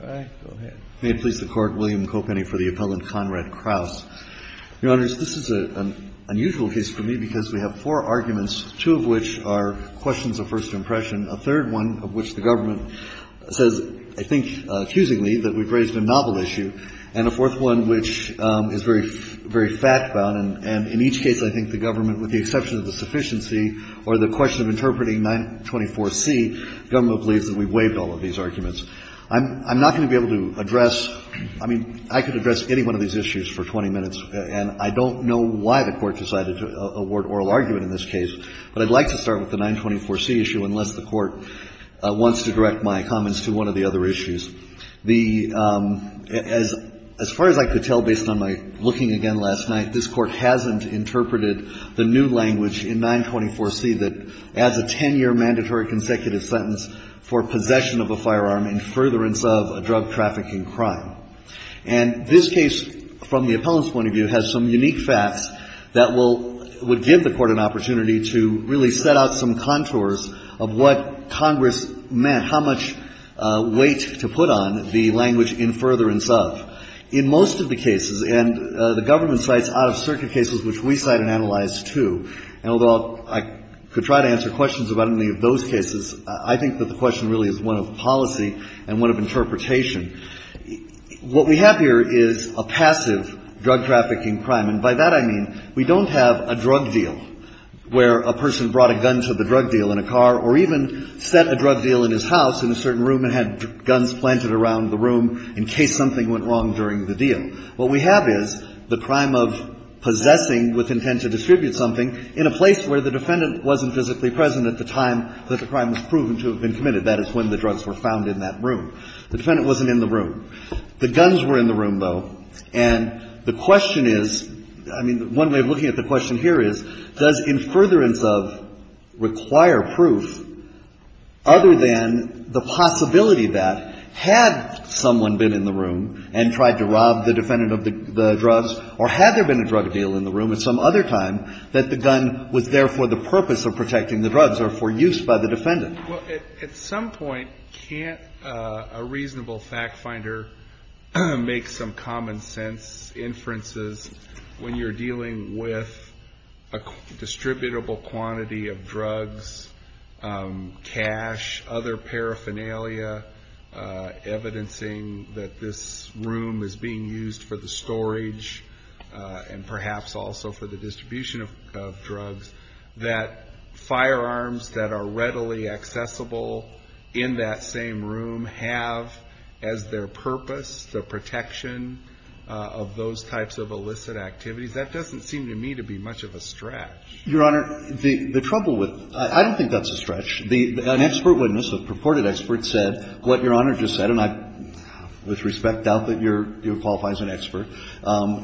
May it please the Court, William Kopenny for the appellant, Conrad Krouse. Your Honors, this is an unusual case for me because we have four arguments, two of which are questions of first impression, a third one of which the government says, I think, accusingly, that we've raised a novel issue, and a fourth one which is very fact-bound, and in each case I think the government, with the exception of the sufficiency or the question of interpreting 924C, the government believes that we've not going to be able to address, I mean, I could address any one of these issues for 20 minutes, and I don't know why the Court decided to award oral argument in this case, but I'd like to start with the 924C issue unless the Court wants to direct my comments to one of the other issues. The, as far as I could tell based on my looking again last night, this Court hasn't interpreted the new language in 924C that adds a 10-year mandatory consecutive sentence for possession of a firearm in furtherance of a drug trafficking crime. And this case, from the appellant's point of view, has some unique facts that will – would give the Court an opportunity to really set out some contours of what Congress meant, how much weight to put on the language in furtherance of. In most of the cases, and the government cites out-of-circuit cases which we cite and analyze, too, and although I could try to answer questions about any of those cases, I think that the question really is one of policy and one of interpretation. What we have here is a passive drug trafficking crime, and by that I mean we don't have a drug deal where a person brought a gun to the drug deal in a car or even set a drug deal in his house in a certain room and had guns planted around the room in case something went wrong during the deal. What we have is the crime of possessing with intent to distribute something in a place where the defendant wasn't physically present at the time that the crime was proven to have been committed. That is, when the drugs were found in that room. The defendant wasn't in the room. The guns were in the room, though. And the question is – I mean, one way of looking at the question here is, does in furtherance of require proof other than the possibility that had someone been in the room and tried to rob the defendant of the drugs, or had there been a drug deal in the room at some other time, that the gun was there for the purpose of protecting the drugs or for use by the defendant? Well, at some point, can't a reasonable fact finder make some common sense inferences when you're dealing with a distributable quantity of drugs, cash, other paraphernalia, evidencing that this room is being used for the storage and perhaps also for the distribution of drugs, that firearms that are readily accessible in that same room have as their purpose the protection of those types of illicit activities? That doesn't seem to me to be much of a stretch. Your Honor, the trouble with – I don't think that's a stretch. An expert witness, a purported expert, said what Your Honor just said, and I with respect doubt that you're qualified as an expert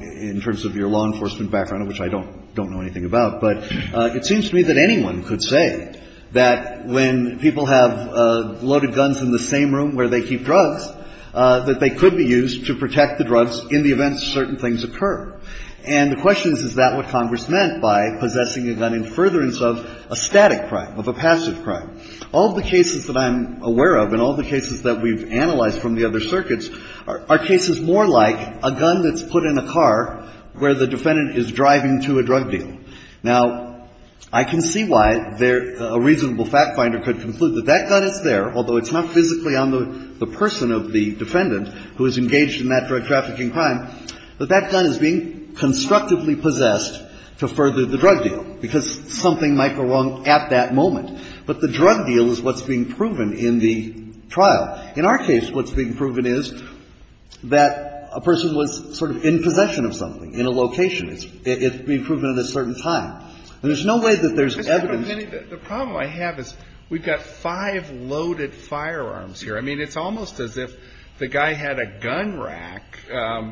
in terms of your law enforcement background, which I don't know anything about. But it seems to me that anyone could say that when people have loaded guns in the same room where they keep drugs, that they could be used to protect the drugs in the event that certain things occur. And the question is, is that what Congress meant by possessing a gun in furtherance of a static crime, of a passive crime? All the cases that I'm aware of and all the cases that we've analyzed from the other circuits are cases more like a gun that's put in a car where the defendant is driving to a drug deal. Now, I can see why a reasonable fact finder could conclude that that gun is there, although it's not physically on the person of the defendant who is engaged in that drug trafficking crime, but that gun is being constructively possessed to further the drug deal, because something might go wrong at that moment. But the drug deal is what's being proven in the trial. In our case, what's being proven is that a person was sort of in possession of something in a location. It's being proven at a certain time. And there's no way that there's evidence to prove that. The problem I have is we've got five loaded firearms here. I mean, it's almost as if the guy had a gun rack,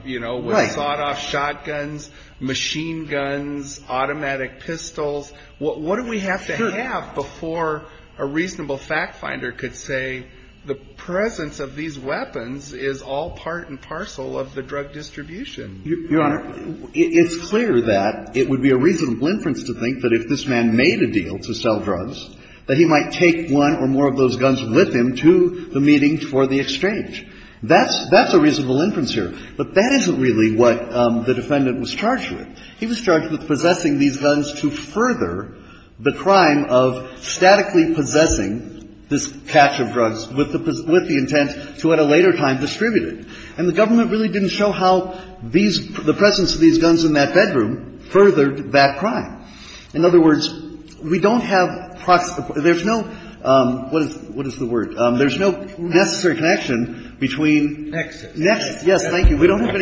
you know, with sawed-off shotguns, machine guns, automatic pistols. What do we have to have before a reasonable fact finder could say the presence of these weapons is all part and parcel of the drug distribution? You Honor, it's clear that it would be a reasonable inference to think that if this man made a deal to sell drugs, that he might take one or more of those guns with him to the meeting for the exchange. That's a reasonable inference here. But that isn't really what the defendant was charged with. He was charged with possessing these guns to further the crime of statically possessing this catch of drugs with the intent to at a later time distribute it. And the government really didn't show how these – the presence of these guns in that bedroom furthered that crime. In other words, we don't have – there's no – what is the word? We don't have any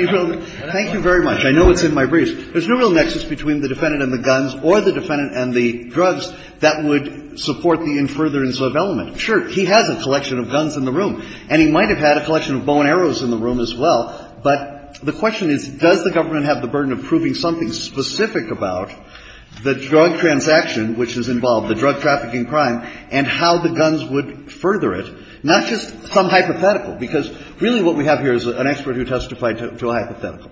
real – thank you very much. I know it's in my briefs. There's no real nexus between the defendant and the guns or the defendant and the drugs that would support the infertile and sub element. Sure, he has a collection of guns in the room, and he might have had a collection of bow and arrows in the room as well. But the question is, does the government have the burden of proving something specific about the drug transaction which is involved, the drug trafficking crime, and how the guns would further it, not just some hypothetical? Because really what we have here is an expert who testified to a hypothetical.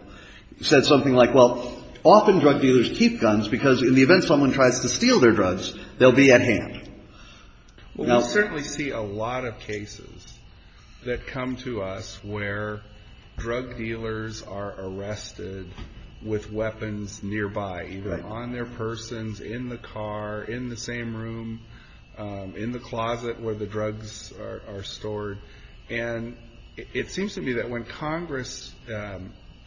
He said something like, well, often drug dealers keep guns because in the event someone tries to steal their drugs, they'll be at hand. Well, we certainly see a lot of cases that come to us where drug dealers are arrested with weapons nearby, either on their persons, in the car, in the same case. And it seems to me that when Congress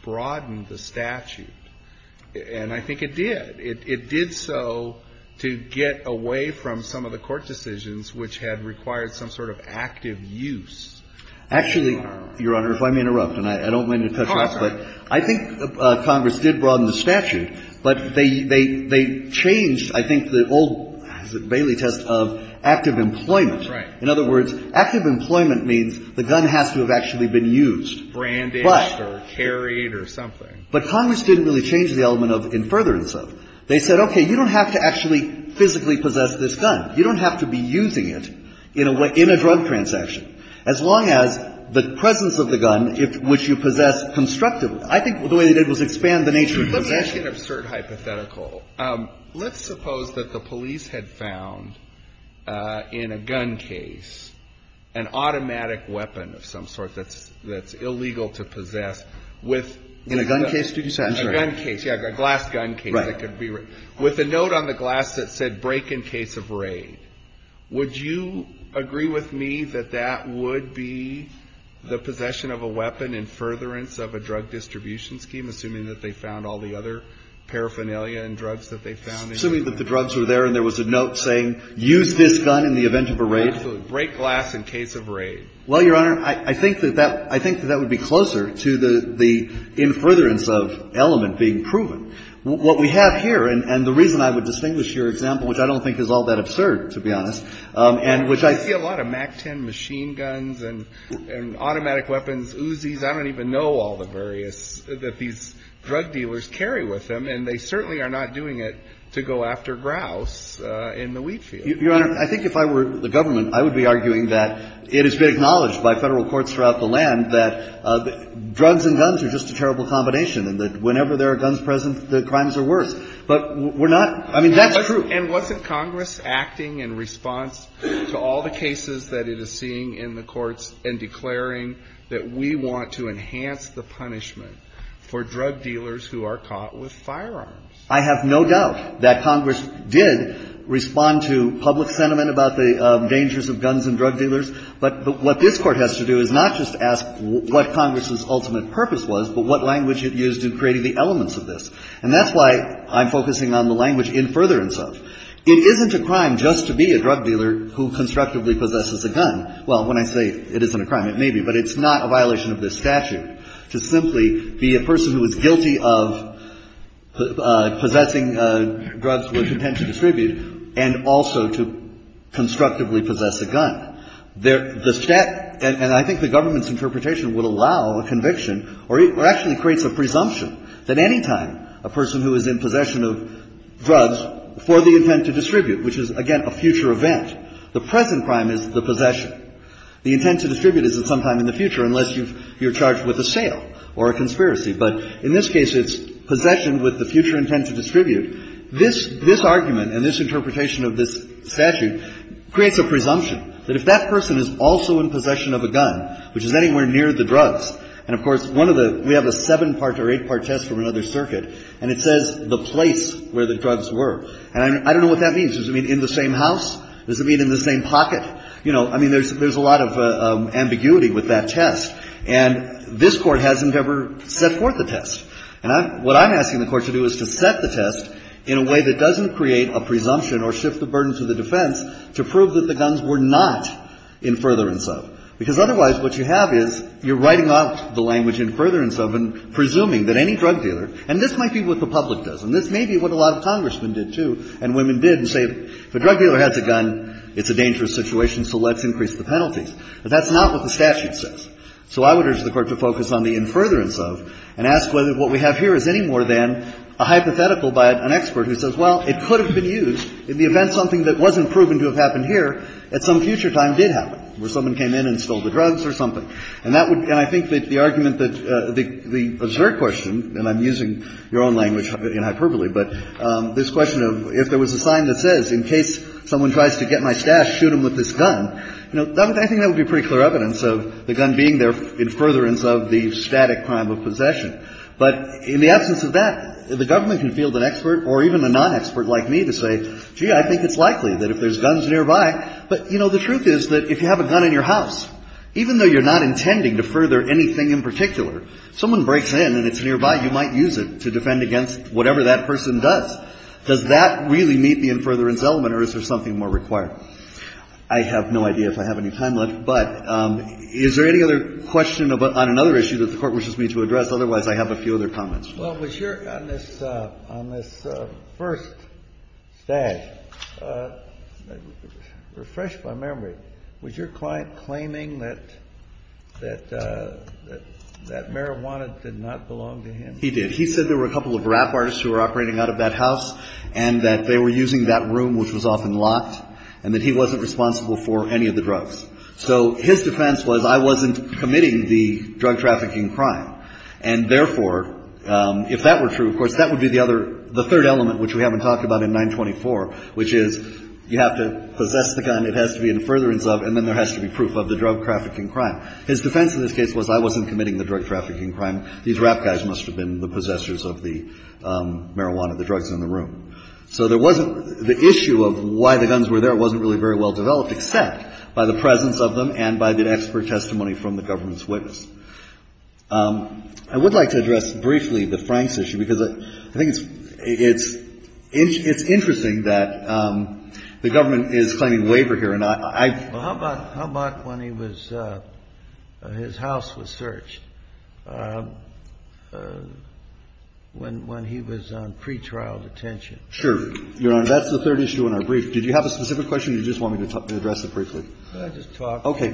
broadened the statute, and I think it did, it did so to get away from some of the court decisions which had required some sort of active use. Actually, Your Honor, if I may interrupt, and I don't mean to touch on this, but I think Congress did broaden the statute, but they changed, I think, the old Bailey test of active employment. Right. In other words, active employment means the gun has to have actually been used. Branded or carried or something. But Congress didn't really change the element of in furtherance of. They said, okay, you don't have to actually physically possess this gun. You don't have to be using it in a drug transaction, as long as the presence of the gun which you possess constructively. I think the way they did was expand the nature of possession. Let's make an absurd hypothetical. Let's suppose that the police had found in a gun case an automatic weapon of some sort that's illegal to possess with. In a gun case, did you say? A gun case, yeah, a glass gun case. Right. With a note on the glass that said break in case of raid. Would you agree with me that that would be the possession of a weapon in furtherance of a drug distribution scheme, assuming that they found all the other paraphernalia and drugs that they found in the gun case? Assuming that the drugs were there and there was a note saying use this gun in the event of a raid? Absolutely. Break glass in case of raid. Well, Your Honor, I think that would be closer to the in furtherance of element being proven. What we have here, and the reason I would distinguish your example, which I don't think is all that absurd, to be honest, and which I think I see a lot of MAC-10 machine guns and automatic weapons, Uzis. I don't even know all the various that these drug dealers carry with them. And they certainly are not doing it to go after grouse in the wheat field. Your Honor, I think if I were the government, I would be arguing that it has been acknowledged by federal courts throughout the land that drugs and guns are just a terrible combination. And that whenever there are guns present, the crimes are worse. But we're not. I mean, that's true. And wasn't Congress acting in response to all the cases that it is seeing in the courts and declaring that we want to enhance the punishment for drug dealers who are caught with firearms? I have no doubt that Congress did respond to public sentiment about the dangers of guns and drug dealers. But what this Court has to do is not just ask what Congress's ultimate purpose was, but what language it used in creating the elements of this. And that's why I'm focusing on the language in furtherance of. It isn't a crime just to be a drug dealer who constructively possesses a gun. Well, when I say it isn't a crime, it may be, but it's not a violation of this statute. To simply be a person who is guilty of possessing drugs with intent to distribute and also to constructively possess a gun. The statute, and I think the government's interpretation would allow a conviction or actually creates a presumption that any time a person who is in possession of drugs for the intent to distribute, which is, again, a future event, the present crime is the possession. The intent to distribute is at some time in the future unless you're charged with a sale or a conspiracy. But in this case, it's possession with the future intent to distribute. This argument and this interpretation of this statute creates a presumption that if that person is also in possession of a gun, which is anywhere near the drugs, and of course, one of the – we have a seven-part or eight-part test from another circuit, and it says the place where the drugs were. And I don't know what that means. Does it mean in the same house? Does it mean in the same pocket? You know, I mean, there's a lot of ambiguity with that test, and this Court hasn't ever set forth a test. And what I'm asking the Court to do is to set the test in a way that doesn't create a presumption or shift the burden to the defense to prove that the guns were not in furtherance of. Because otherwise, what you have is you're writing off the language in furtherance of and presuming that any drug dealer – and this might be what the public does, and this may be what a lot of Congressmen did, too, and women did, and say, if a drug dealer has a gun, it's a dangerous situation. So let's increase the penalties. But that's not what the statute says. So I would urge the Court to focus on the in furtherance of and ask whether what we have here is any more than a hypothetical by an expert who says, well, it could have been used in the event something that wasn't proven to have happened here at some future time did happen, where someone came in and stole the drugs or something. And that would – and I think that the argument that the – the absurd question, and I'm using your own language in hyperbole, but this question of if there was a sign that says, in case someone tries to get my stash, shoot them with this gun, that would be a reasonable argument. If there's a gun, you know, I think that would be pretty clear evidence of the gun being there in furtherance of the static crime of possession. But in the absence of that, the government can field an expert or even a non-expert like me to say, gee, I think it's likely that if there's guns nearby – but, you know, the truth is that if you have a gun in your house, even though you're not intending to further anything in particular, someone breaks in and it's nearby, you might use it to defend against whatever that person does. Does that really meet the in furtherance element, or is there something more required? I have no idea if I have any time left, but is there any other question on another issue that the Court wishes me to address? Otherwise, I have a few other comments. Well, was your – on this – on this first stash, refresh my memory, was your client claiming that – that marijuana did not belong to him? He did. He said there were a couple of rap artists who were operating out of that house and that they were using that room, which was often locked, and that he wasn't responsible for any of the drugs. So his defense was, I wasn't committing the drug trafficking crime. And therefore, if that were true, of course, that would be the other – the third element, which we haven't talked about in 924, which is you have to possess the gun, it has to be in furtherance of, and then there has to be proof of the drug trafficking crime. His defense in this case was, I wasn't committing the drug trafficking crime. These rap guys must have been the possessors of the marijuana, the drugs in the room. So there wasn't – the issue of why the guns were there wasn't really very well developed, except by the presence of them and by the expert testimony from the government's witness. I would like to address briefly the Franks issue, because I think it's – it's interesting that the government is claiming waiver here. And I – I – Well, how about – how about when he was – his house was searched, when – when he was on pretrial detention? Sure. Your Honor, that's the third issue in our brief. Did you have a specific question, or did you just want me to address it briefly? Could I just talk? Okay.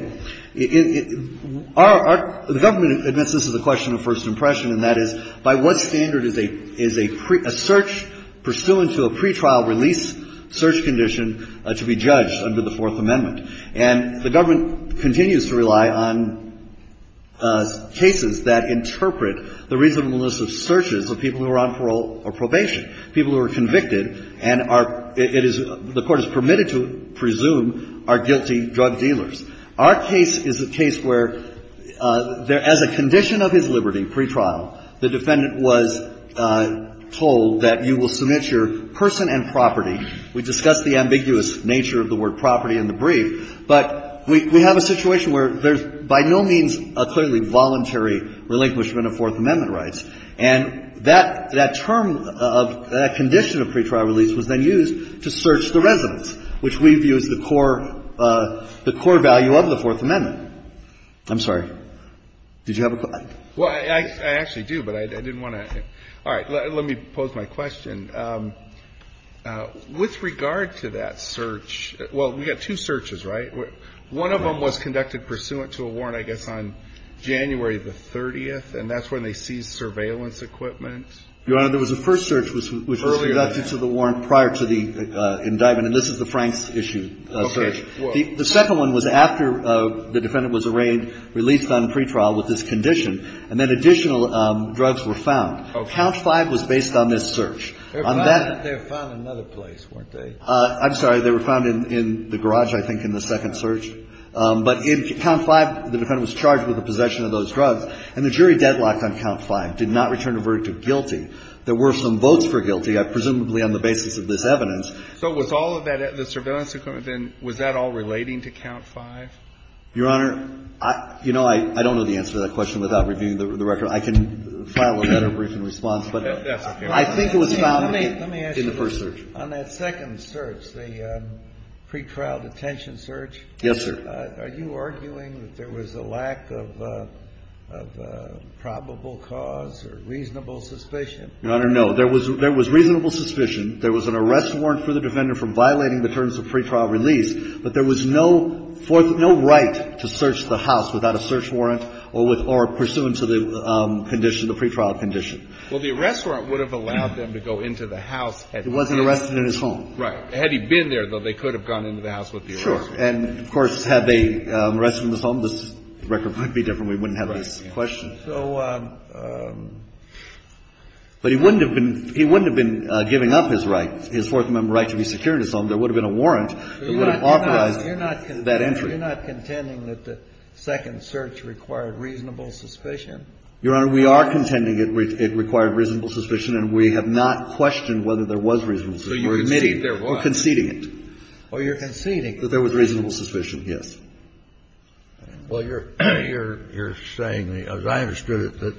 Our – the government admits this is a question of first impression, and that is, by what standard is a – is a search pursuant to a pretrial release search condition to be judged under the Fourth Amendment? And the government continues to rely on cases that interpret the reasonableness of searches of people who are on parole or probation, people who are convicted and are – it is – the Court has permitted to presume are guilty drug dealers. Our case is a case where there – as a condition of his liberty, pretrial, the defendant was told that you will submit your person and property. We discussed the ambiguous nature of the word property in the brief, but we – we have a situation where there's by no means a clearly voluntary relinquishment of Fourth Amendment rights. And that – that term of – that condition of pretrial release was then used to search the residence, which we view as the core – the core value of the Fourth Amendment. I'm sorry. Did you have a question? Well, I actually do, but I didn't want to – all right. Let me pose my question. With regard to that search – well, we've got two searches, right? One of them was conducted pursuant to a warrant, I guess, on January the 30th, and that's when they seized surveillance equipment. Your Honor, there was a first search, which was conducted to the warrant prior to the indictment, and this is the Franks issue search. Okay. The second one was after the defendant was arraigned, released on pretrial with this condition, and then additional drugs were found. Okay. Count 5 was based on this search. They were found in another place, weren't they? I'm sorry. They were found in the garage, I think, in the second search. But in Count 5, the defendant was charged with the possession of those drugs, and the jury deadlocked on Count 5, did not return a verdict of guilty. There were some votes for guilty, presumably on the basis of this evidence. So was all of that – the surveillance equipment, then, was that all relating to Count 5? Your Honor, you know, I don't know the answer to that question without reviewing the record. I can file a better brief in response, but I think it was found in the first search. On that second search, the pretrial detention search. Yes, sir. Are you arguing that there was a lack of probable cause or reasonable suspicion? Your Honor, no. There was reasonable suspicion. There was an arrest warrant for the defendant for violating the terms of pretrial release, but there was no right to search the house without a search warrant or pursuant to the condition, the pretrial condition. Well, the arrest warrant would have allowed them to go into the house. It wasn't arrested in his home. Right. Had he been there, though, they could have gone into the house with the arrest warrant. Sure. And, of course, had they arrested him in his home, the record would be different. We wouldn't have this question. Right. So – But he wouldn't have been – he wouldn't have been giving up his right, his Fourth Amendment right to be secured in his home. There would have been a warrant that would have authorized that entry. You're not contending that the second search required reasonable suspicion? Your Honor, we are contending it required reasonable suspicion, and we have not questioned whether there was reasonable suspicion. So you're conceding there was. We're conceding it. Oh, you're conceding. That there was reasonable suspicion, yes. Well, you're saying, as I understood it, that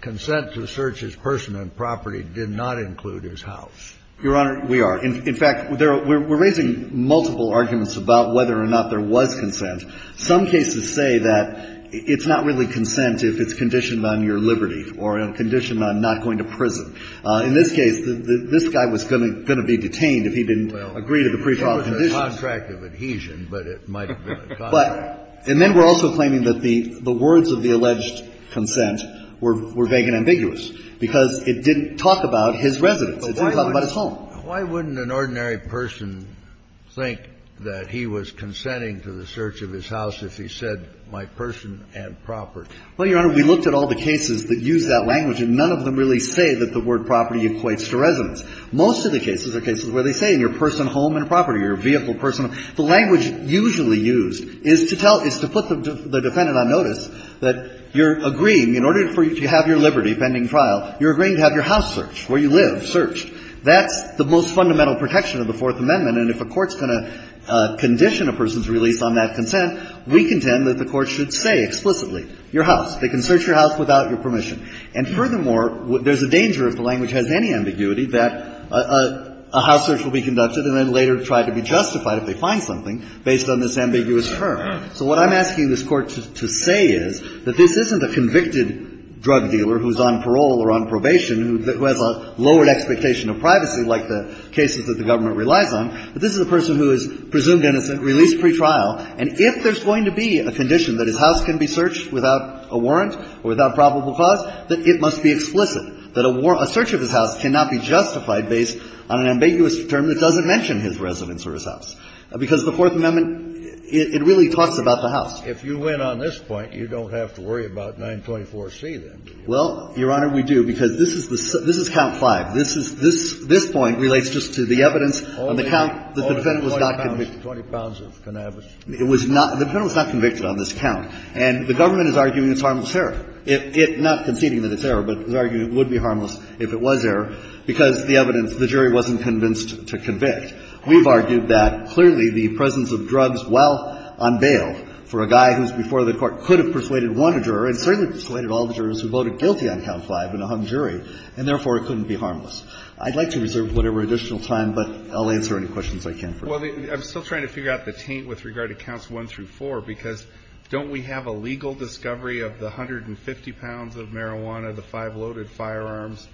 consent to search his person and property did not include his house. Your Honor, we are. In fact, we're raising multiple arguments about whether or not there was consent. Some cases say that it's not really consent if it's conditioned on your liberty or conditioned on not going to prison. In this case, this guy was going to be detained if he didn't agree to the pre-trial conditions. Well, it was a contract of adhesion, but it might have been a contract. And then we're also claiming that the words of the alleged consent were vague and ambiguous because it didn't talk about his residence. It didn't talk about his home. But why wouldn't an ordinary person think that he was consenting to the search of his house if he said, my person and property? Well, Your Honor, we looked at all the cases that use that language, and none of them really say that the word property equates to residence. Most of the cases are cases where they say, your person, home, and property, your vehicle, personal. The language usually used is to tell the defendant on notice that you're agreeing in order for you to have your liberty pending trial, you're agreeing to have your house searched, where you live searched. That's the most fundamental protection of the Fourth Amendment, and if a court's going to condition a person's release on that consent, we contend that the court should say explicitly, your house. They can search your house without your permission. And furthermore, there's a danger, if the language has any ambiguity, that a house search will be conducted and then later tried to be justified if they find something based on this ambiguous term. So what I'm asking this Court to say is that this isn't a convicted drug dealer who's on parole or on probation who has a lowered expectation of privacy like the cases that the government relies on, but this is a person who is presumed innocent, released pretrial, and if there's going to be a condition that his house can be searched without a warrant or without probable cause, that it must be explicit, that a search of his house cannot be justified based on an ambiguous term that doesn't mention his residence or his house, because the Fourth Amendment, it really talks about the house. Kennedy. If you win on this point, you don't have to worry about 924C then, do you? Well, Your Honor, we do, because this is count 5. This point relates just to the evidence on the count that the defendant was not convicted. 20 pounds of cannabis. It was not the defendant was not convicted on this count. And the government is arguing it's harmless error. It's not conceding that it's error, but is arguing it would be harmless if it was error because the evidence, the jury wasn't convinced to convict. We've argued that clearly the presence of drugs while on bail for a guy who's before the Court could have persuaded one juror and certainly persuaded all the jurors who voted guilty on count 5 in a hung jury, and therefore it couldn't be harmless. I'd like to reserve whatever additional time, but I'll answer any questions I can for you. Well, I'm still trying to figure out the taint with regard to counts 1 through 4, because don't we have a legal discovery of the 150 pounds of marijuana, the five loaded firearms,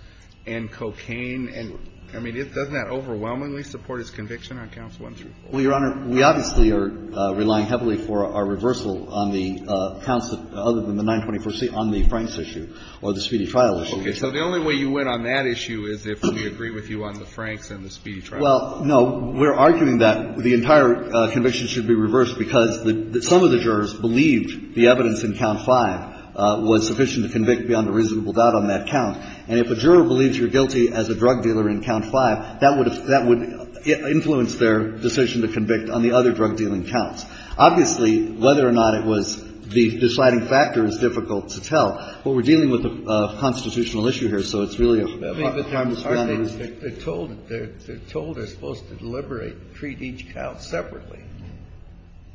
and cocaine? And, I mean, doesn't that overwhelmingly support his conviction on counts 1 through 4? Well, Your Honor, we obviously are relying heavily for our reversal on the counts other than the 924C on the Franks issue or the speedy trial issue. Okay. So the only way you went on that issue is if we agree with you on the Franks and the speedy trial issue. Well, no. We're arguing that the entire conviction should be reversed because some of the jurors believed the evidence in count 5 was sufficient to convict beyond a reasonable doubt on that count. And if a juror believes you're guilty as a drug dealer in count 5, that would influence their decision to convict on the other drug-dealing counts. Obviously, whether or not it was the deciding factor is difficult to tell. But we're dealing with a constitutional issue here, so it's really a matter of time to spend on it. They're told they're supposed to deliberate and treat each count separately,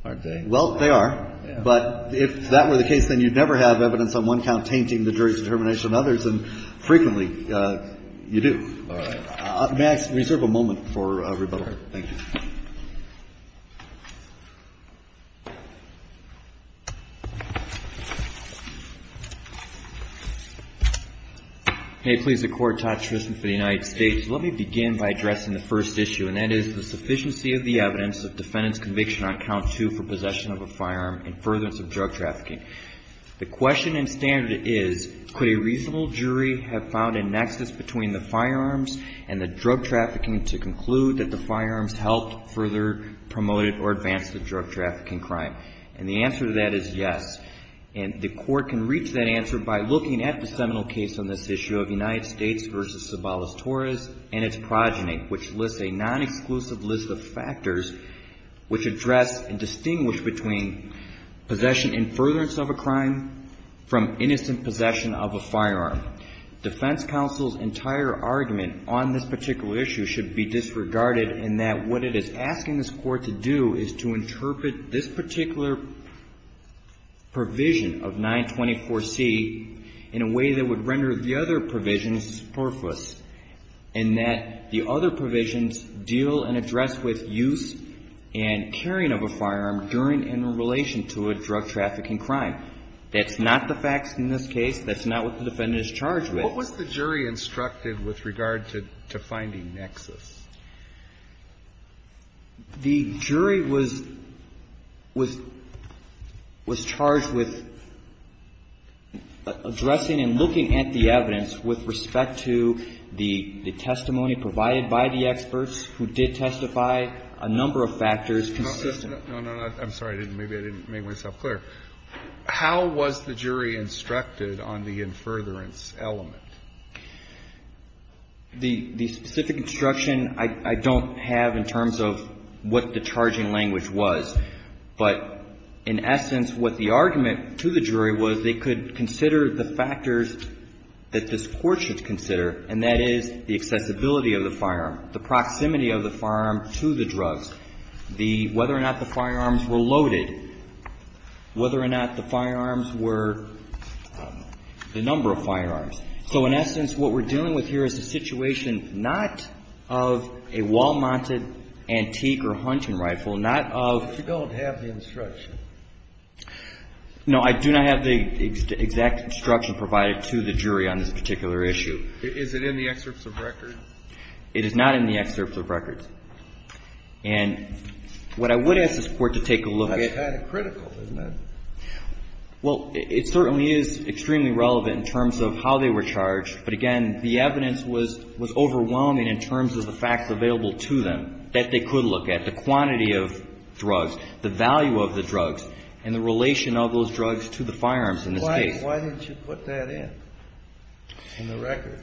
aren't they? Well, they are. But if that were the case, then you'd never have evidence on one count tainting the jury's determination on others, and frequently you do. All right. May I reserve a moment for rebuttal? Thank you. May it please the Court. Todd Tristan for the United States. Let me begin by addressing the first issue, and that is the sufficiency of the evidence of defendant's conviction on count 2 for possession of a firearm and furtherance of drug trafficking. The question and standard is, could a reasonable jury have found a nexus between the firearms and the drug trafficking to conclude that the firearms helped further promote it or advance the drug trafficking crime? And the answer to that is yes. And the Court can reach that answer by looking at the seminal case on this issue of United States v. Sabalas-Torres and its progeny, which lists a non-exclusive list of factors which address and distinguish between possession and furtherance of a crime from innocent possession of a firearm. Defense counsel's entire argument on this particular issue should be disregarded in that what it is asking this Court to do is to interpret this particular provision of 924C in a way that would render the other provisions worthless, and that the other provisions deal and address with use and carrying of a firearm during and in relation to a drug trafficking crime. That's not the facts in this case. That's not what the defendant is charged with. Alito, what was the jury instructed with regard to finding nexus? The jury was charged with addressing and looking at the evidence with respect to the testimony provided by the experts who did testify, a number of factors consistent. No, no, I'm sorry. Maybe I didn't make myself clear. How was the jury instructed on the in furtherance element? The specific instruction I don't have in terms of what the charging language was. But in essence, what the argument to the jury was, they could consider the factors that this Court should consider, and that is the accessibility of the firearm, the proximity of the firearm to the drugs, the – whether or not the firearms were loaded, whether or not the firearms were – the number of firearms. So in essence, what we're dealing with here is a situation not of a Wal-Mart antique or hunting rifle, not of – But you don't have the instruction. No, I do not have the exact instruction provided to the jury on this particular issue. Is it in the excerpts of record? It is not in the excerpts of record. And what I would ask this Court to take a look at – That's kind of critical, isn't it? Well, it certainly is extremely relevant in terms of how they were charged. But again, the evidence was overwhelming in terms of the facts available to them that they could look at, the quantity of drugs, the value of the drugs, and the relation of those drugs to the firearms in this case. Why didn't you put that in, in the record?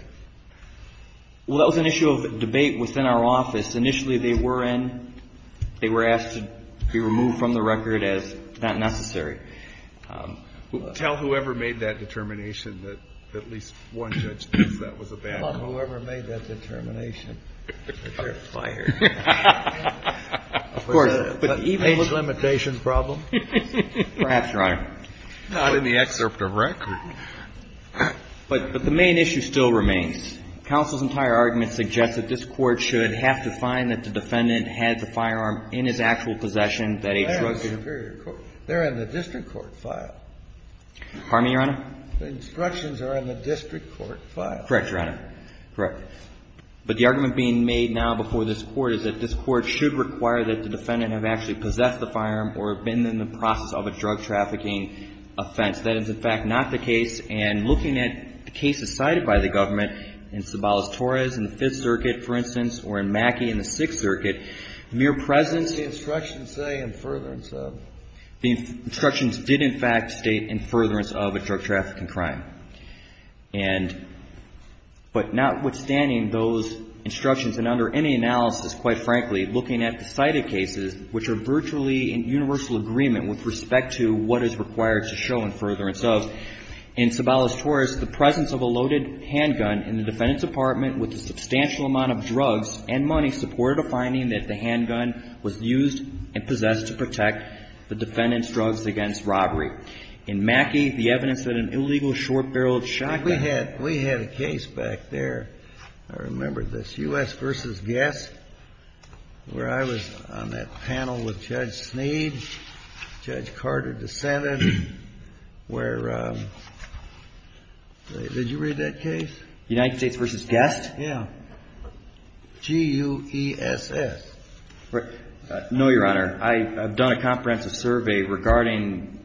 Well, that was an issue of debate within our office. Initially, they were in – they were asked to be removed from the record as not necessary. Tell whoever made that determination that at least one judge thinks that was a bad call. Well, whoever made that determination, they're fired. Of course, but even with – A limitation problem? Perhaps, Your Honor. Not in the excerpt of record. But the main issue still remains. Counsel's entire argument suggests that this Court should have to find that the defendant had the firearm in his actual possession, that a drug could – That's superior court. They're in the district court file. Pardon me, Your Honor? The instructions are in the district court file. Correct, Your Honor. Correct. But the argument being made now before this Court is that this Court should require that the defendant have actually possessed the firearm or have been in the process of a drug trafficking offense. That is, in fact, not the case. And looking at the cases cited by the government in Sabalas-Torres in the Fifth Circuit, for instance, or in Mackey in the Sixth Circuit, mere presence – The instructions say, in furtherance of – The instructions did, in fact, state in furtherance of a drug trafficking crime. And – but notwithstanding those instructions and under any analysis, quite frankly, looking at the cited cases, which are virtually in universal agreement with respect to what is required to show in furtherance of, in Sabalas-Torres, the presence of a loaded handgun in the defendant's apartment with a substantial amount of drugs and money supported a finding that the handgun was used and possessed to protect the defendant's drugs against robbery. In Mackey, the evidence that an illegal short-barreled shotgun – We had – we had a case back there. I remember this. U.S. v. Guest, where I was on that panel with Judge Sneed, Judge Carter dissented, where – did you read that case? United States v. Guest? Yeah. G-U-E-S-S. No, Your Honor. I have done a comprehensive survey regarding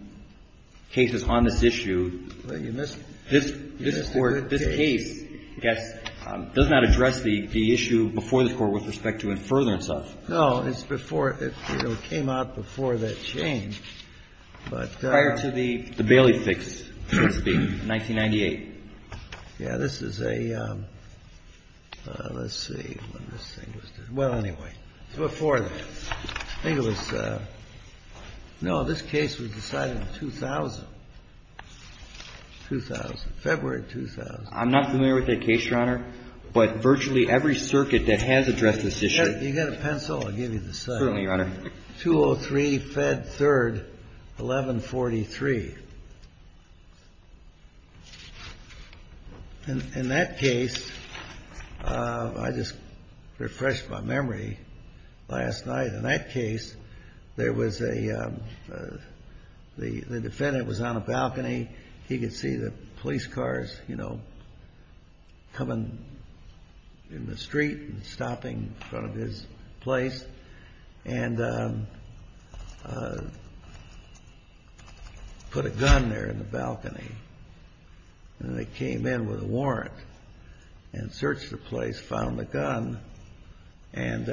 cases on this issue. Well, you missed a good case. The U.S. v. Guest does not address the issue before the Court with respect to in furtherance of. No. It's before – it came out before that change, but – Prior to the Bailey fix, so to speak, 1998. Yeah. This is a – let's see when this thing was – well, anyway, it's before that. I think it was – no, this case was decided in 2000, 2000, February 2000. I'm not familiar with that case, Your Honor, but virtually every circuit that has addressed this issue. You got a pencil? I'll give you the size. Certainly, Your Honor. 203 Fed 3rd 1143. In that case, I just refreshed my memory last night. In that case, there was a – the defendant was on a balcony. He could see the police cars, you know, coming in the street and stopping in front of his place, and put a gun there in the balcony. And they came in with a warrant and searched the place, found the gun, and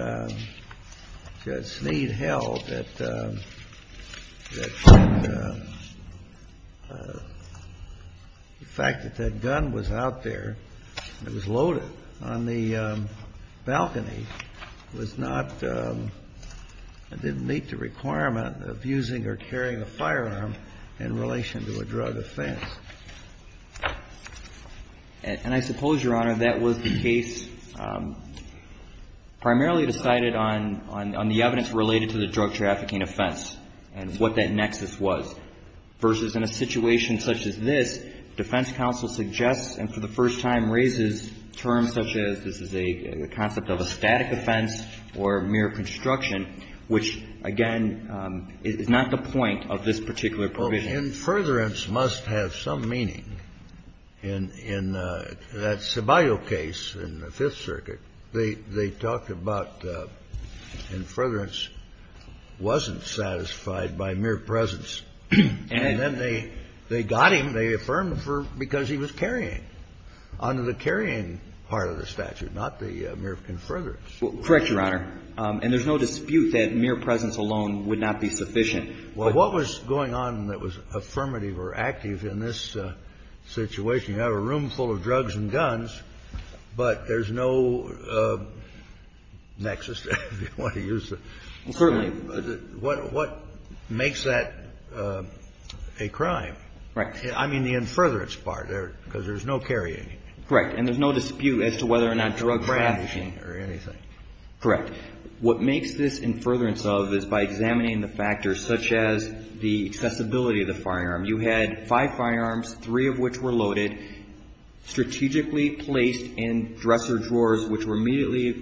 said, And I suppose, Your Honor, that was the case primarily decided on the evidence presented by the drug trafficking offense and what that nexus was, versus in a situation such as this, defense counsel suggests and for the first time raises terms such as this is a concept of a static offense or mere construction, which, again, is not the point of this particular provision. In furtherance must have some meaning. In that Sibaglio case in the Fifth Circuit, they talked about in furtherance wasn't satisfied by mere presence. And then they got him. They affirmed because he was carrying under the carrying part of the statute, not the mere conference. Correct, Your Honor. And there's no dispute that mere presence alone would not be sufficient. Well, what was going on that was affirmative or active in this situation? You have a room full of drugs and guns, but there's no nexus. Well, certainly. What makes that a crime? Right. I mean the in furtherance part, because there's no carrying. Correct. And there's no dispute as to whether or not drug trafficking or anything. Correct. What makes this in furtherance of is by examining the factors, such as the accessibility of the firearm. You had five firearms, three of which were loaded, strategically placed in dresser drawers, which were immediately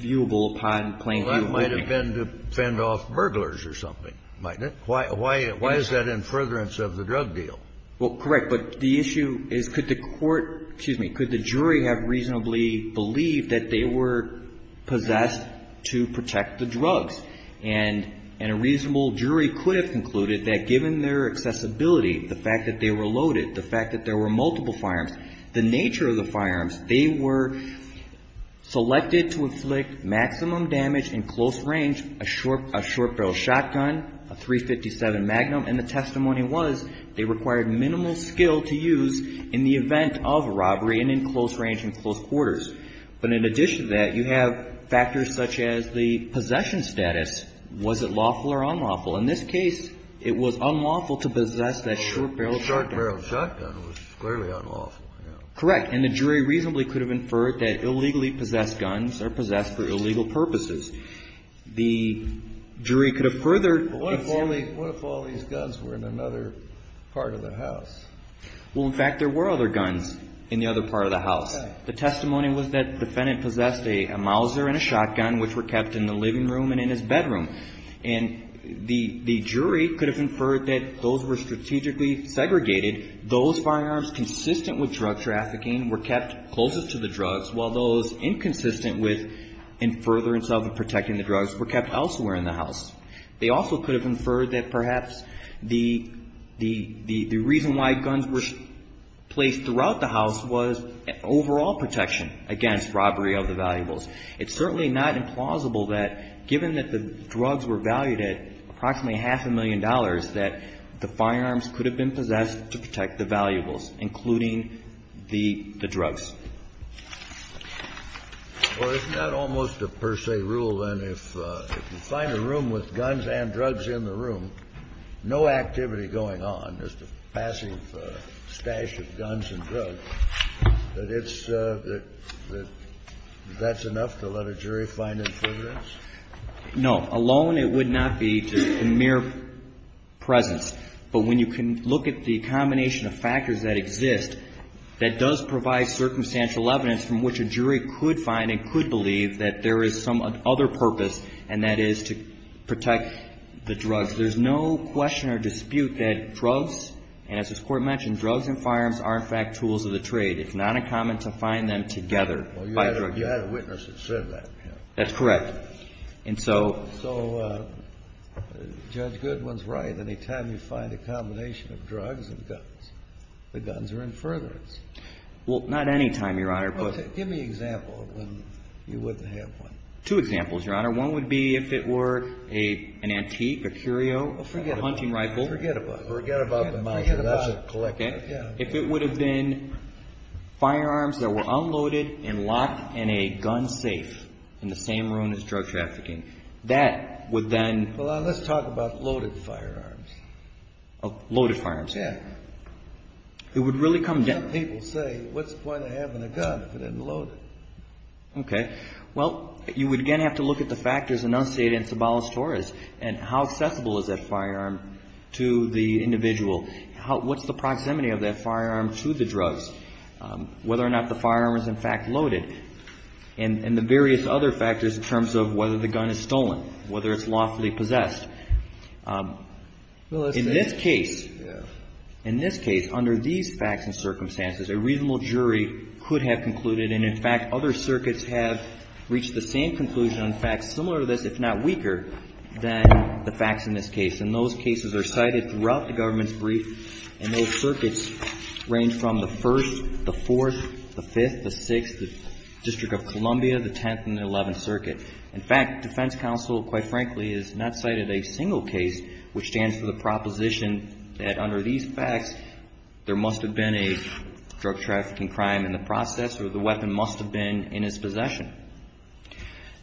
viewable upon plain view holding. Well, that might have been to fend off burglars or something, mightn't it? Why is that in furtherance of the drug deal? Well, correct. But the issue is could the court, excuse me, could the jury have reasonably believed that they were possessed to protect the drugs? And a reasonable jury could have concluded that given their accessibility, the fact that they were loaded, the fact that there were multiple firearms, the nature of the firearms, they were selected to inflict maximum damage in close range, a short barrel shotgun, a .357 Magnum, and the testimony was they required minimal skill to use in the event of robbery and in close range and close quarters. But in addition to that, you have factors such as the possession status. Was it lawful or unlawful? In this case, it was unlawful to possess that short barrel shotgun. Short barrel shotgun was clearly unlawful. Correct. And the jury reasonably could have inferred that illegally possessed guns are possessed for illegal purposes. The jury could have furthered the issue. What if all these guns were in another part of the house? Well, in fact, there were other guns in the other part of the house. The testimony was that the defendant possessed a Mauser and a shotgun, which were kept in the living room and in his bedroom. And the jury could have inferred that those were strategically segregated. Those firearms consistent with drug trafficking were kept closest to the drugs, while those inconsistent with and further in self-protecting the drugs were kept elsewhere in the house. They also could have inferred that perhaps the reason why guns were placed throughout the house was overall protection against robbery of the valuables. It's certainly not implausible that, given that the drugs were valued at approximately half a million dollars, that the firearms could have been possessed to protect the valuables, including the drugs. Well, isn't that almost a per se rule, then? If you find a room with guns and drugs in the room, no activity going on, just a passive stash of guns and drugs, that it's the – that that's enough to let a jury find infringements? No. Alone, it would not be just a mere presence. But when you can look at the combination of factors that exist, that does provide circumstantial evidence from which a jury could find and could believe that there is some other purpose, and that is to protect the drugs. There's no question or dispute that drugs, and as this Court mentioned, drugs and firearms are, in fact, tools of the trade. It's not uncommon to find them together. Well, you had a witness that said that. That's correct. And so – So Judge Goodwin's right. Anytime you find a combination of drugs and guns, the guns are in furtherance. Well, not anytime, Your Honor, but – Give me an example of when you wouldn't have one. Two examples, Your Honor. One would be if it were an antique, a curio, a hunting rifle – Forget about it. Forget about it. Forget about it. Forget about it. If it would have been firearms that were unloaded and locked in a gun safe in the same room as drug trafficking, that would then – Loaded firearms. Yeah. It would really come down – That's what people say. What's the point of having a gun if it isn't loaded? Okay. Well, you would, again, have to look at the factors enunciated in Cibales-Torres and how accessible is that firearm to the individual. What's the proximity of that firearm to the drugs, whether or not the firearm is, in fact, loaded, and the various other factors in terms of whether the gun is stolen, whether it's lawfully possessed. Well, that's – In this case – Yeah. In this case, under these facts and circumstances, a reasonable jury could have concluded and, in fact, other circuits have reached the same conclusion on facts similar to this, if not weaker, than the facts in this case. And those cases are cited throughout the government's brief, and those circuits range from the 1st, the 4th, the 5th, the 6th, the District of Columbia, the 10th, and the 11th Circuit. In fact, defense counsel, quite frankly, has not cited a single case which stands for the proposition that, under these facts, there must have been a drug-trafficking crime in the process, or the weapon must have been in his possession.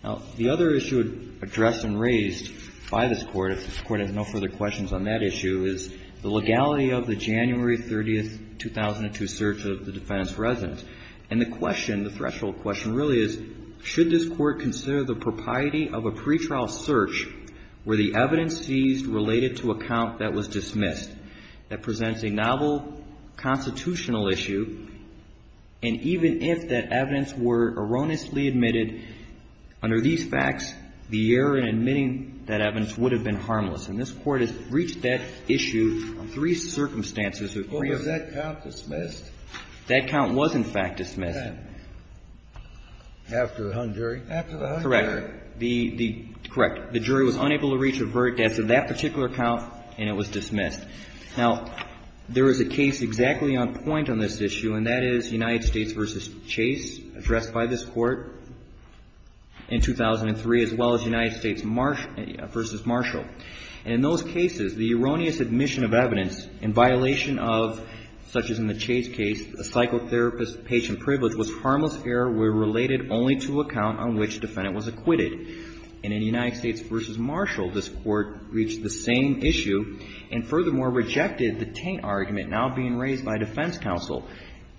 Now, the other issue addressed and raised by this Court, if this Court has no further questions on that issue, is the legality of the January 30, 2002, search of the defendant's residence. And the question, the threshold question, really is, should this Court consider the propriety of a pretrial search where the evidence seized related to a count that was dismissed, that presents a novel constitutional issue, and even if that evidence were erroneously admitted under these facts, the error in admitting that evidence would have been harmless? And this Court has reached that issue on three circumstances, or three of them. Kennedy. Well, was that count dismissed? That count was, in fact, dismissed. After the hung jury? Correct. Correct. The jury was unable to reach a verdict after that particular count, and it was dismissed. Now, there is a case exactly on point on this issue, and that is United States v. Chase, addressed by this Court in 2003, as well as United States v. Marshall. And in those cases, the erroneous admission of evidence in violation of, such as in the Chase case, a psychotherapist's patient privilege was harmless error where the evidence was related only to a count on which the defendant was acquitted. And in United States v. Marshall, this Court reached the same issue and, furthermore, rejected the taint argument now being raised by defense counsel.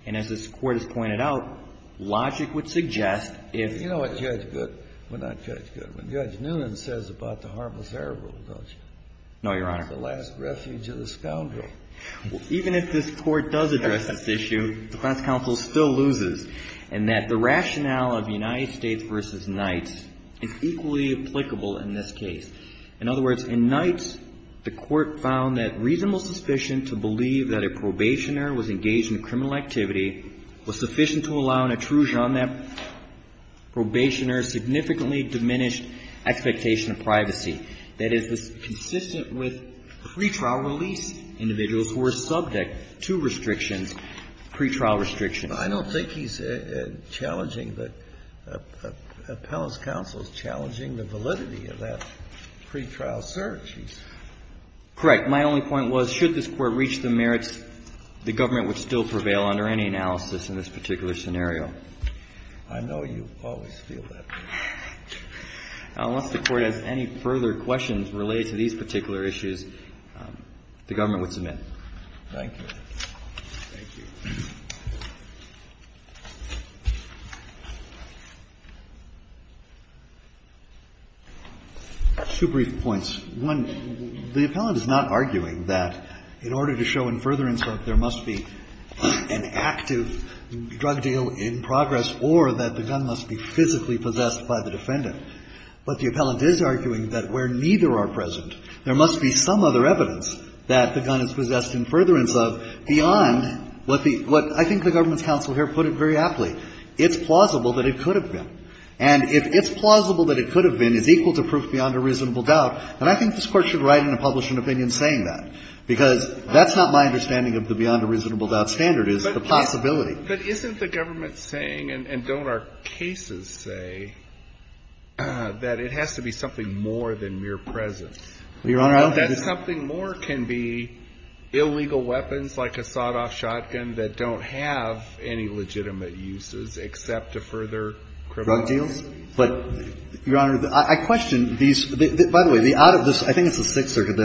And as this Court has pointed out, logic would suggest if you know what Judge Goodwin, not Judge Goodwin, Judge Noonan says about the harmless error rule, don't you? No, Your Honor. It's the last refuge of the scoundrel. Well, even if this Court does address this issue, the defense counsel still loses in that the rationale of United States v. Knights is equally applicable in this case. In other words, in Knights, the Court found that reasonable suspicion to believe that a probationer was engaged in criminal activity was sufficient to allow an intrusion on that probationer's significantly diminished expectation of privacy that is consistent with pretrial release individuals who are subject to restrictions, pretrial restrictions. But I don't think he's challenging the appellate's counsel is challenging the validity of that pretrial search. Correct. My only point was should this Court reach the merits, the government would still prevail under any analysis in this particular scenario. I know you always feel that way. Unless the Court has any further questions related to these particular issues, the government would submit. Thank you. Thank you. Two brief points. One, the appellate is not arguing that in order to show in further insult there must be an active drug deal in progress or that the gun must be physically possessed by the defendant. But the appellate is arguing that where neither are present, there must be some other evidence that the gun is possessed in further insult beyond what the – what I think the government's counsel here put it very aptly. It's plausible that it could have been. And if it's plausible that it could have been is equal to proof beyond a reasonable doubt, then I think this Court should write in a publishing opinion saying that, because that's not my understanding of the beyond a reasonable doubt standard is the possibility. But isn't the government saying, and don't our cases say, that it has to be something more than mere presence? Your Honor, I don't think it's – That something more can be illegal weapons like a sawed-off shotgun that don't have any legitimate uses except to further criminal – Drug deals. But, Your Honor, I question these – by the way, the out of this – I think it's the Sixth Circuit.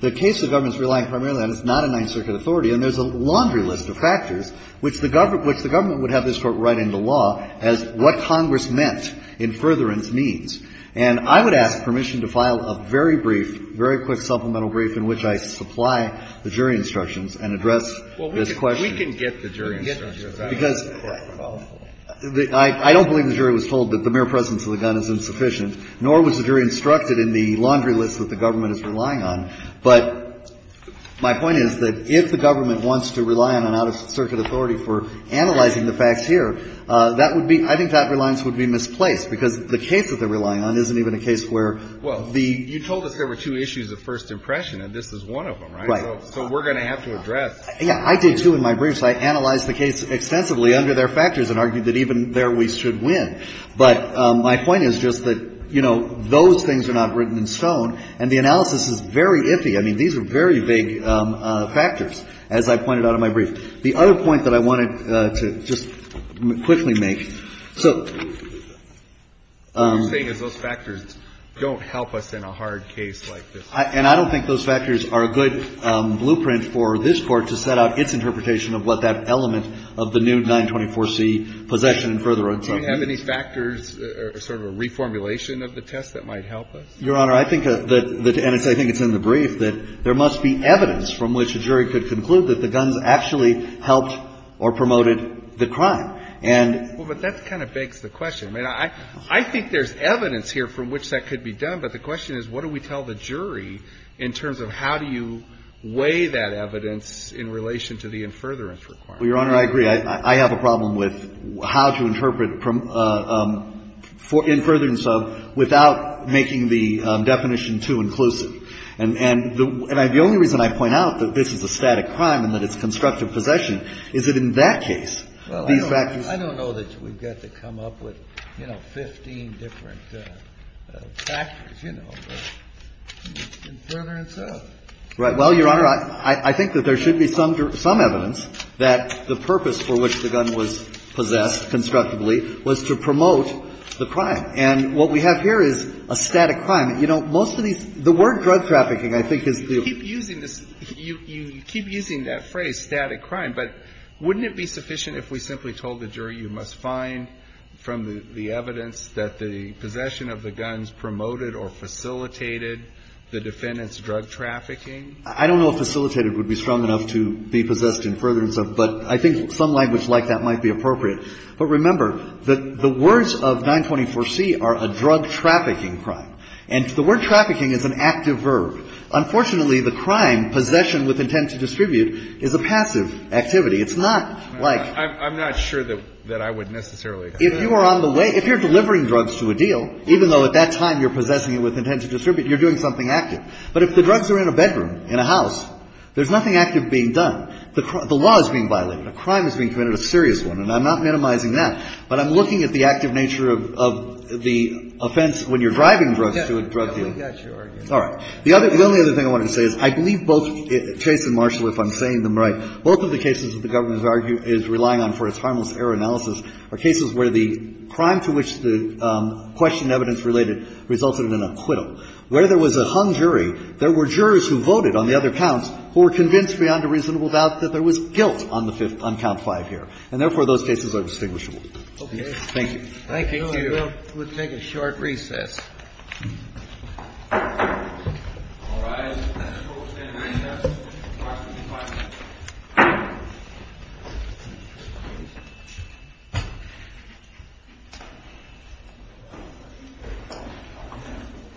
The case the government's relying primarily on is not a Ninth Circuit authority. And there's a laundry list of factors which the government would have this Court write into law as what Congress meant in furtherance means. And I would ask permission to file a very brief, very quick supplemental brief in which I supply the jury instructions and address this question. We can get the jury instructions. Because I don't believe the jury was told that the mere presence of the gun is insufficient, nor was the jury instructed in the laundry list that the government is relying on. But my point is that if the government wants to rely on an out-of-circuit authority for analyzing the facts here, that would be – I think that reliance would be misplaced, because the case that they're relying on isn't even a case where the – Well, you told us there were two issues of first impression, and this is one of them, right? Right. So we're going to have to address – Yeah. I did, too, in my briefs. I analyzed the case extensively under their factors and argued that even there we should But my point is just that, you know, those things are not written in stone, and the I mean, these are very big factors, as I pointed out in my brief. The other point that I wanted to just quickly make, so – What you're saying is those factors don't help us in a hard case like this. And I don't think those factors are a good blueprint for this Court to set out its interpretation of what that element of the new 924C possession and further instructions is. Do you have any factors or sort of a reformulation of the test that might help us? Your Honor, I think that – and I think it's in the brief that there must be evidence from which a jury could conclude that the guns actually helped or promoted the crime. And – Well, but that kind of begs the question. I mean, I think there's evidence here from which that could be done, but the question is what do we tell the jury in terms of how do you weigh that evidence in relation to the in furtherance requirement? Well, Your Honor, I agree. I have a problem with how to interpret in furtherance of without making the definition too inclusive. And the only reason I point out that this is a static crime and that it's constructive possession is that in that case, these factors – Well, I don't know that we've got to come up with, you know, 15 different factors, you know, in furtherance of. Right. Well, Your Honor, I think that there should be some evidence that the purpose for which the gun was possessed constructively was to promote the crime. And what we have here is a static crime. You know, most of these – the word drug trafficking, I think, is the – You keep using this – you keep using that phrase, static crime, but wouldn't it be sufficient if we simply told the jury you must find from the evidence that the possession of the guns promoted or facilitated the defendant's drug trafficking I don't know if facilitated would be strong enough to be possessed in furtherance of, but I think some language like that might be appropriate. But remember that the words of 924C are a drug trafficking crime. And the word trafficking is an active verb. Unfortunately, the crime, possession with intent to distribute, is a passive activity. It's not like – I'm not sure that I would necessarily agree. If you are on the way – if you're delivering drugs to a deal, even though at that time you're possessing it with intent to distribute, you're doing something But if the drugs are in a bedroom, in a house, there's nothing active being done. The law is being violated. A crime is being committed, a serious one. And I'm not minimizing that, but I'm looking at the active nature of the offense when you're driving drugs to a drug deal. All right. The only other thing I wanted to say is I believe both – Chase and Marshall, if I'm saying them right, both of the cases that the government is relying on for its harmless error analysis are cases where the crime to which the question evidence related resulted in an acquittal. Where there was a hung jury, there were jurors who voted on the other counts who were convinced beyond a reasonable doubt that there was guilt on the fifth – on count five here. And therefore, those cases are distinguishable. Thank you. Thank you. Thank you. We'll take a short recess. Thank you. Thank you.